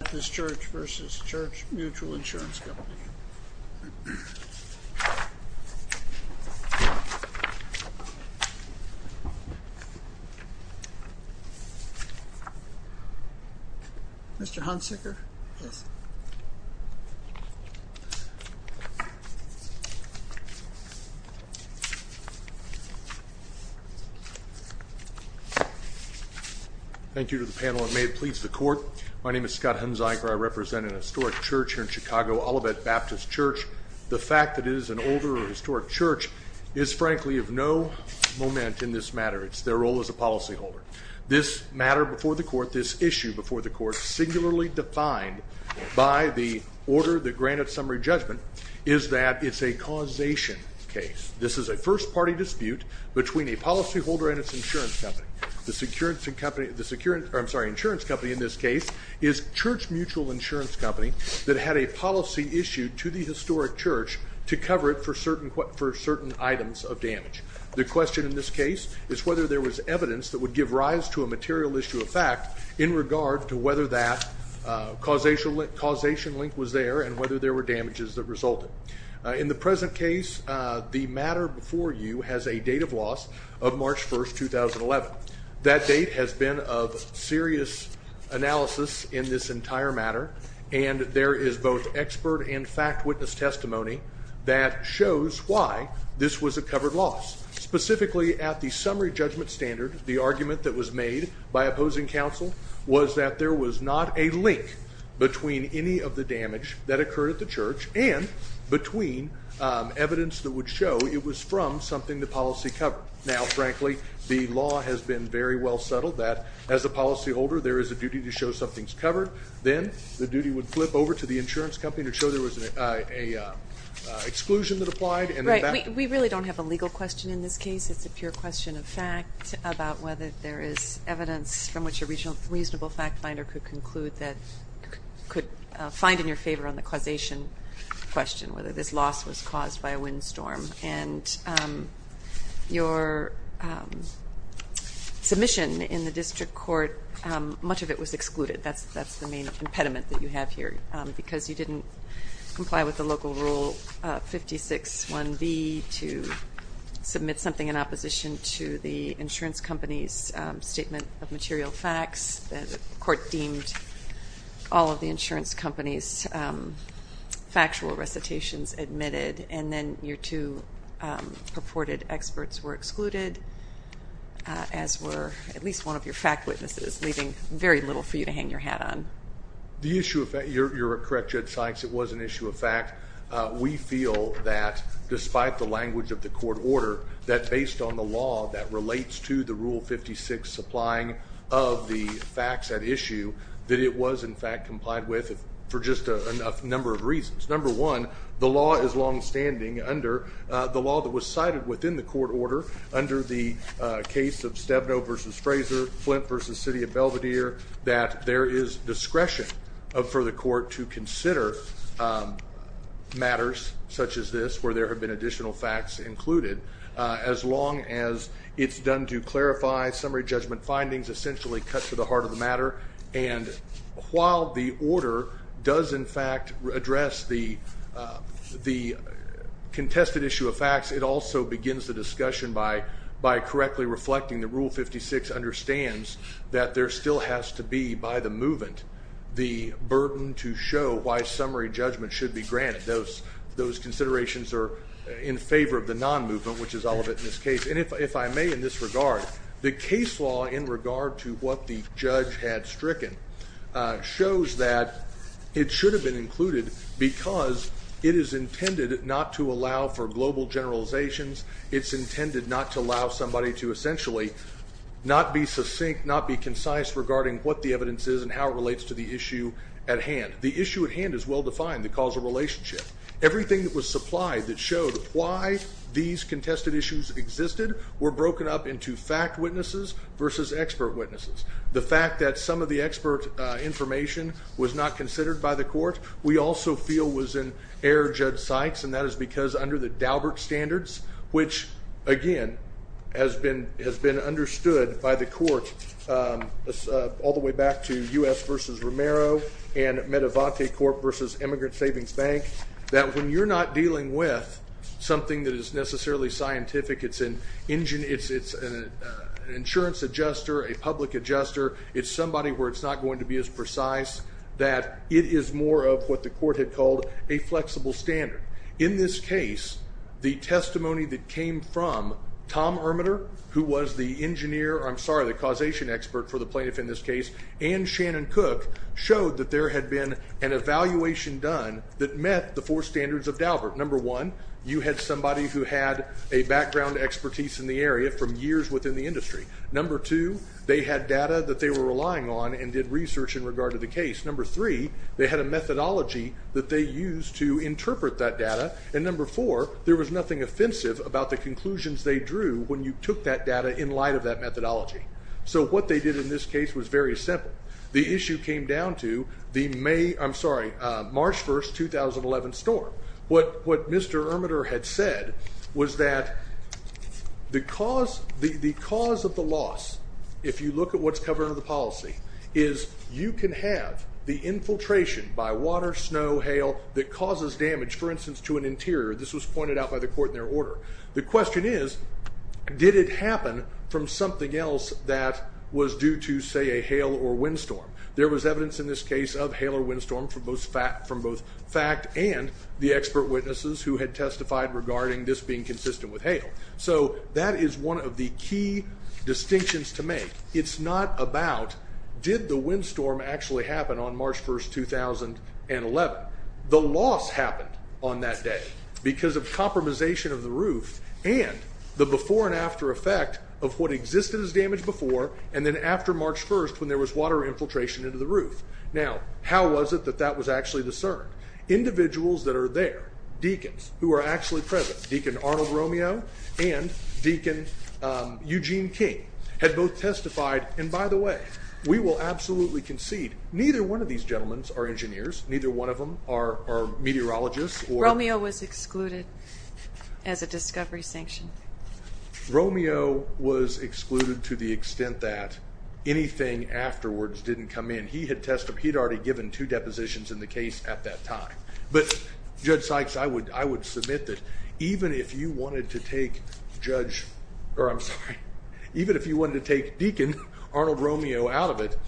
Baptist Church v. Church Mutual Insurance Company Mr. Hunsicker Thank you to the panel and may it please the court My name is Scott Hunsicker. I represent an historic church here in Chicago, Olivet Baptist Church The fact that it is an older and historic church is frankly of no moment in this matter It's their role as a policyholder This matter before the court, this issue before the court, singularly defined by the order that granted summary judgment is that it's a causation case This is a first party dispute between a policyholder and its insurance company The insurance company in this case is Church Mutual Insurance Company that had a policy issued to the historic church to cover it for certain items of damage The question in this case is whether there was evidence that would give rise to a material issue of fact in regard to whether that causation link was there and whether there were damages that resulted In the present case, the matter before you has a date of loss of March 1, 2011 That date has been of serious analysis in this entire matter and there is both expert and fact witness testimony that shows why this was a covered loss Specifically at the summary judgment standard, the argument that was made by opposing counsel was that there was not a link between any of the damage that occurred at the church and between evidence that would show it was from something the policy covered Now, frankly, the law has been very well settled that as a policyholder there is a duty to show something is covered Then the duty would flip over to the insurance company to show there was an exclusion that applied We really don't have a legal question in this case It's a pure question of fact about whether there is evidence from which a reasonable fact finder could conclude that could find in your favor on the causation question, whether this loss was caused by a windstorm and your submission in the district court, much of it was excluded That's the main impediment that you have here because you didn't comply with the local rule 56.1b to submit something in opposition to the insurance company's The court deemed all of the insurance company's factual recitations admitted and then your two purported experts were excluded as were at least one of your fact witnesses, leaving very little for you to hang your hat on You're correct, Judge Sykes, it was an issue of fact We feel that despite the language of the court order that based on the law that relates to the rule 56 supplying of the facts at issue that it was in fact complied with for just a number of reasons Number one, the law is longstanding under the law that was cited within the court order under the case of Stebno v. Fraser, Flint v. City of Belvedere that there is discretion for the court to consider matters such as this where there have been additional facts included as long as it's done to clarify summary judgment findings essentially cut to the heart of the matter and while the order does in fact address the contested issue of facts it also begins the discussion by correctly reflecting the rule 56 understands that there still has to be by the movement the burden to show why summary judgment should be granted those considerations are in favor of the non-movement which is all of it in this case and if I may in this regard, the case law in regard to what the judge had stricken shows that it should have been included because it is intended not to allow for global generalizations it's intended not to allow somebody to essentially not be succinct, not be concise regarding what the evidence is and how it relates to the issue at hand the issue at hand is well defined, the causal relationship everything that was supplied that showed why these contested issues existed were broken up into fact witnesses versus expert witnesses the fact that some of the expert information was not considered by the court we also feel was an error, Judge Sykes and that is because under the Daubert standards which again has been understood by the court all the way back to U.S. versus Romero and Medivante Corp versus Immigrant Savings Bank that when you're not dealing with something that is necessarily scientific it's an insurance adjuster, a public adjuster it's somebody where it's not going to be as precise that it is more of what the court had called a flexible standard in this case, the testimony that came from Tom Ermeter who was the causation expert for the plaintiff in this case and Shannon Cook showed that there had been an evaluation done that met the four standards of Daubert number one, you had somebody who had a background expertise in the area from years within the industry number two, they had data that they were relying on and did research in regard to the case number three, they had a methodology that they used to interpret that data and number four, there was nothing offensive about the conclusions they drew when you took that data in light of that methodology so what they did in this case was very simple the issue came down to the March 1, 2011 storm what Mr. Ermeter had said was that the cause of the loss, if you look at what's covered under the policy is you can have the infiltration by water, snow, hail that causes damage, for instance, to an interior this was pointed out by the court in their order the question is, did it happen from something else that was due to, say, a hail or windstorm there was evidence in this case of hail or windstorm from both fact and the expert witnesses who had testified regarding this being consistent with hail so that is one of the key distinctions to make it's not about, did the windstorm actually happen on March 1, 2011 the loss happened on that day because of compromisation of the roof and the before and after effect of what existed as damage before and then after March 1, when there was water infiltration into the roof now, how was it that that was actually discerned individuals that are there, deacons who are actually present, Deacon Arnold Romeo and Deacon Eugene King had both testified, and by the way we will absolutely concede neither one of these gentlemen are engineers neither one of them are meteorologists Romeo was excluded as a discovery sanction Romeo was excluded to the extent that anything afterwards didn't come in he had already given two depositions in the case at that time but Judge Sykes, I would submit that even if you wanted to take Deacon Arnold Romeo out of it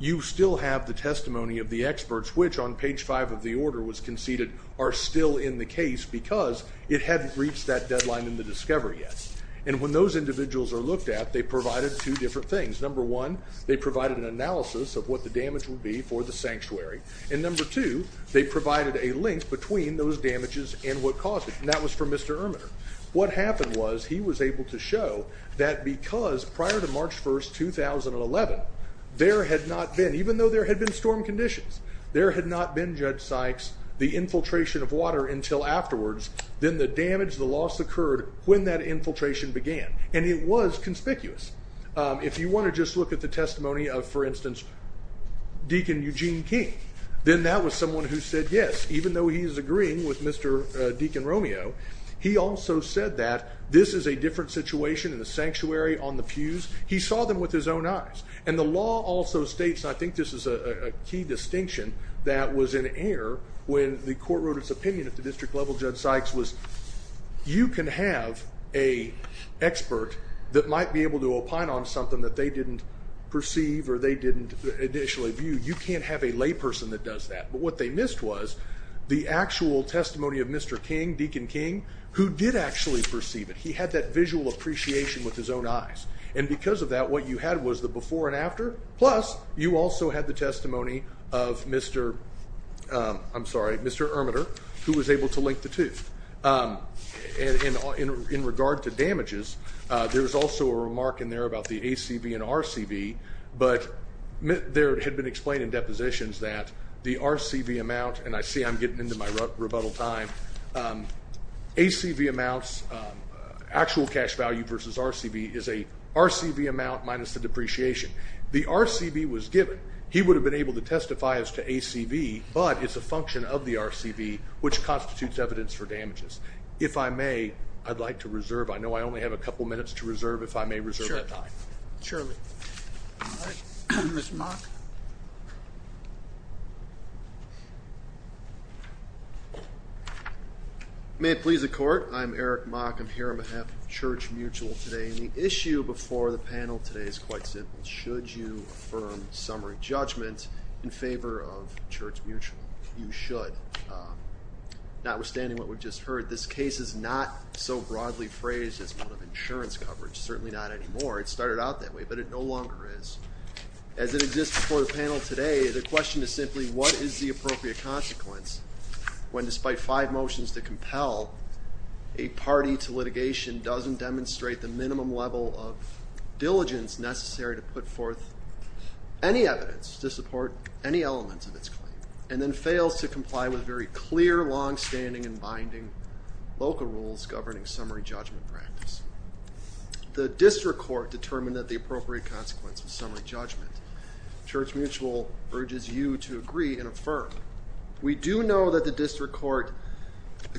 you still have the testimony of the experts which on page 5 of the order was conceded are still in the case because it hadn't reached that deadline in the discovery yet and when those individuals are looked at they provided two different things number one, they provided an analysis of what the damage would be for the sanctuary and number two, they provided a link between those damages and what caused it and that was for Mr. Ermitter what happened was, he was able to show that because prior to March 1, 2011 there had not been, even though there had been storm conditions there had not been, Judge Sykes the infiltration of water until afterwards then the damage, the loss occurred when that infiltration began and it was conspicuous if you want to just look at the testimony of for instance, Deacon Eugene King then that was someone who said yes even though he is agreeing with Mr. Deacon Romeo he also said that this is a different situation in the sanctuary, on the pews he saw them with his own eyes and the law also states and I think this is a key distinction that was in error when the court wrote its opinion at the district level, Judge Sykes was you can have an expert that might be able to opine on something that they didn't perceive or they didn't initially view you can't have a layperson that does that but what they missed was the actual testimony of Mr. King Deacon King who did actually perceive it he had that visual appreciation with his own eyes and because of that, what you had was the before and after plus, you also had the testimony of Mr. I'm sorry, Mr. Ermitter who was able to link the two in regard to damages there was also a remark in there about the ACV and RCV but there had been explained in depositions that the RCV amount and I see I'm getting into my rebuttal time ACV amounts actual cash value versus RCV is a RCV amount minus the depreciation the RCV was given he would have been able to testify as to ACV but it's a function of the RCV which constitutes evidence for damages if I may, I'd like to reserve I know I only have a couple minutes to reserve if I may reserve my time surely Ms. Mock May it please the court I'm Eric Mock, I'm here on behalf of Church Mutual today and the issue before the panel today is quite simple should you affirm summary judgment in favor of Church Mutual you should notwithstanding what we've just heard this case is not so broadly phrased as one of insurance coverage certainly not anymore, it started out that way but it no longer is as it exists before the panel today the question is simply what is the appropriate consequence when despite five motions to compel a party to litigation doesn't demonstrate the minimum level of diligence necessary to put forth any evidence to support any elements of its claim and then fails to comply with very clear, long-standing and binding local rules governing summary judgment practice the district court determined that the appropriate consequence of summary judgment Church Mutual urges you to agree and affirm we do know that the district court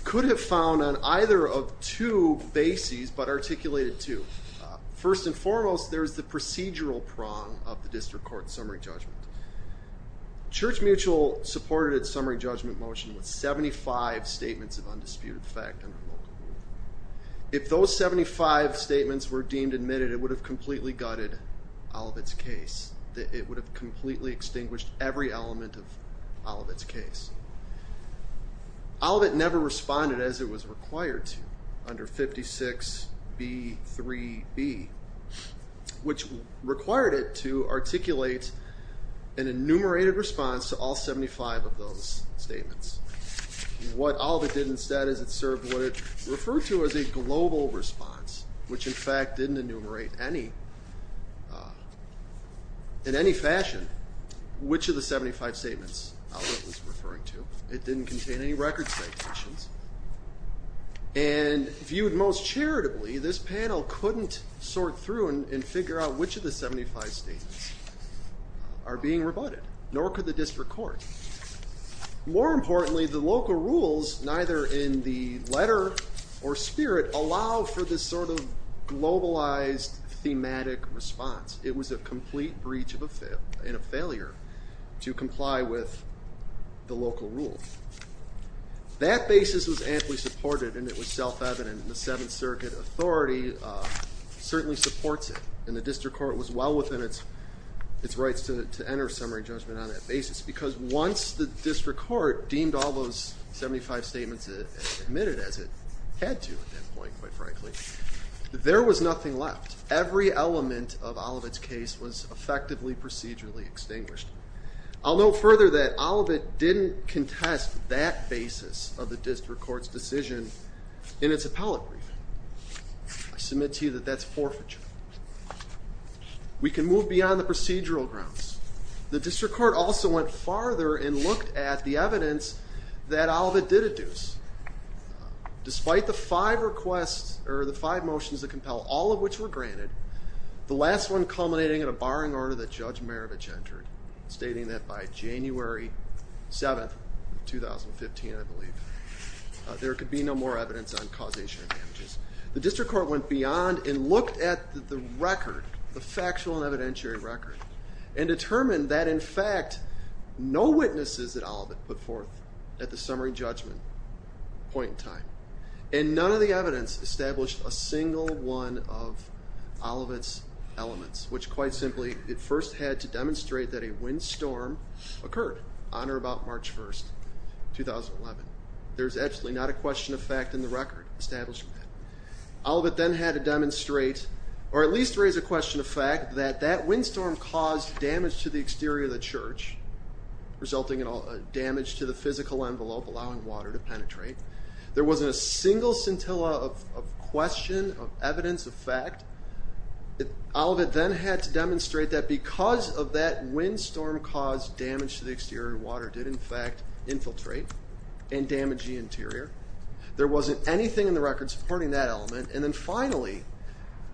could have found on either of two bases but articulated two first and foremost there's the procedural prong of the district court summary judgment Church Mutual supported its summary judgment motion with 75 statements of undisputed fact under local rule if those 75 statements were deemed admitted it would have completely gutted Olivet's case it would have completely extinguished every element of Olivet's case Olivet never responded as it was required to under 56 B3B which required it to articulate an enumerated response to all 75 of those statements what Olivet did instead is it served what it referred to as a global response which in fact didn't enumerate any in any fashion which of the 75 statements Olivet was referring to it didn't contain any record citations and viewed most charitably this panel couldn't sort through and figure out which of the 75 statements are being rebutted nor could the district court more importantly the local rules neither in the letter or spirit allow for this sort of globalized thematic response it was a complete breach and a failure to comply with the local rule that basis was amply supported and it was self evident and the 7th circuit authority certainly supports it and the district court was well within its rights to enter summary judgment on that basis because once the district court deemed all those 75 statements and admitted as it had to at that point quite frankly there was nothing left every element of Olivet's case was effectively procedurally extinguished. I'll note further that Olivet didn't contest that basis of the district court's decision in its appellate briefing. I submit to you that that's forfeiture. We can move beyond the procedural grounds. The district court also went farther and looked at the evidence that Olivet did adduce. Despite the 5 requests or the 5 motions that compel all of which were granted the last one culminating in a barring order that Judge Maravich entered stating that by January 7th of 2015 I believe there could be no more evidence on causation of damages. The district court went beyond and looked at the record the factual and evidentiary record and determined that in fact no witnesses at Olivet put forth at the summary judgment point in time and none of the evidence established a single one of Olivet's elements which quite of course had to demonstrate that a windstorm occurred on or about March 1st, 2011. There's absolutely not a question of fact in the record establishing that. Olivet then had to demonstrate or at least raise a question of fact that that windstorm caused damage to the exterior of the church resulting in damage to the physical envelope allowing water to penetrate. There wasn't a single scintilla of question, of evidence of fact. Olivet then had to demonstrate that because of that windstorm caused damage to the exterior of the water did in fact infiltrate and damage the interior. There wasn't anything in the record supporting that element. And then finally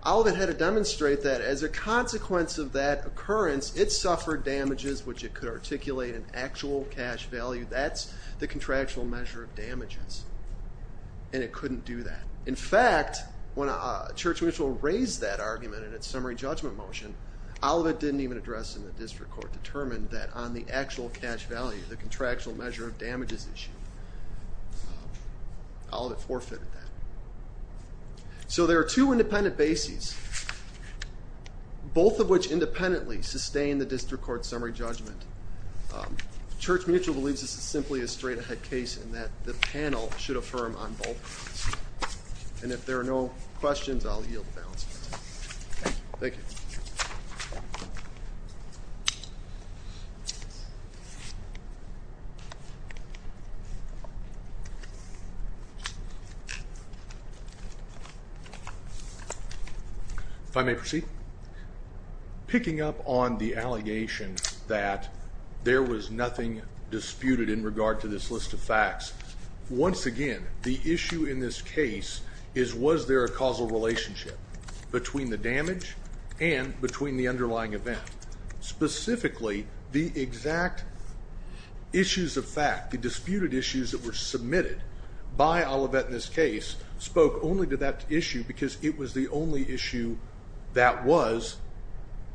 Olivet had to demonstrate that as a consequence of that occurrence it suffered damages which it could articulate in actual cash value that's the contractual measure of damages. And it couldn't do that. In fact when Church Mutual raised that argument in its summary judgment motion Olivet didn't even address it in the district court, determined that on the actual cash value, the contractual measure of damages issue Olivet forfeited that. So there are two independent bases both of which independently sustain the district court summary judgment. Church Mutual believes this is simply a straight ahead case in that the panel should affirm on both and if there are no questions I'll yield the balance. Thank you. If I may proceed. Picking up on the allegation that there was nothing disputed in regard to this list of facts once again the issue in this case is was there a causal relationship between the damage and between the underlying event. Specifically the exact issues of fact, the disputed issues that were submitted by Olivet in this case spoke only to that issue because it was the only issue that was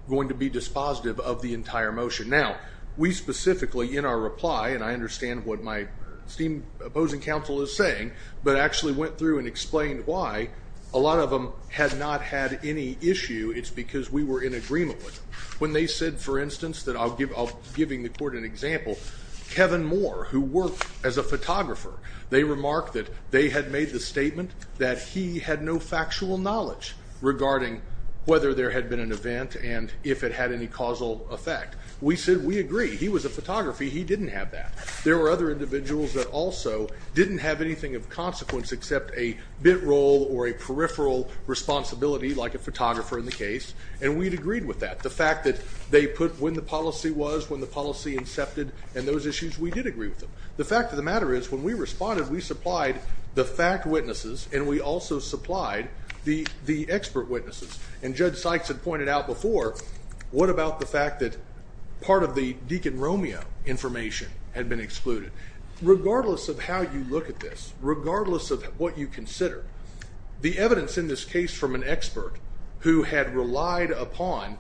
going to be dispositive of the entire motion. Now we specifically in our reply and I understand what my opposing counsel is saying but I actually went through and explained why a lot of them had not had any issue it's because we were in agreement with them. When they said for instance that I'll give the court an example Kevin Moore who worked as a photographer they remarked that they had made the statement that he had no factual knowledge regarding whether there had been an event and if it had any causal effect. We said we agree he was a photographer he didn't have that. There were other individuals that also didn't have anything of consequence except a bit role or a peripheral responsibility like a photographer in the case and we'd agreed with that. The fact that they put when the policy was when the policy incepted and those issues we did agree with them. The fact of the matter is when we responded we supplied the fact witnesses and we also supplied the expert witnesses and Judge Sykes had pointed out before what about the fact that part of the Deacon Romeo information had been excluded. Regardless of how you look at this regardless of what you consider the evidence in this case from an expert who had relied upon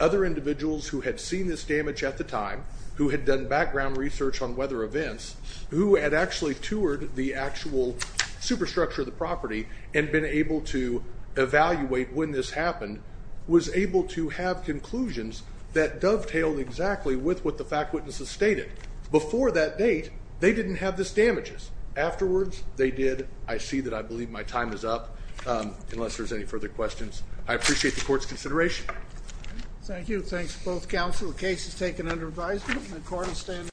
other individuals who had seen this damage at the time who had done background research on weather events who had actually toured the actual superstructure of the property and been able to evaluate when this happened was able to have conclusions that dovetailed exactly with what the fact witnesses stated. Before that date they didn't have this damages. Afterwards they did. I see that I believe my time is up unless there's any further questions. I appreciate the court's consideration. Thank you. Thanks both counsel. The case is taken under advisement. The court is standing.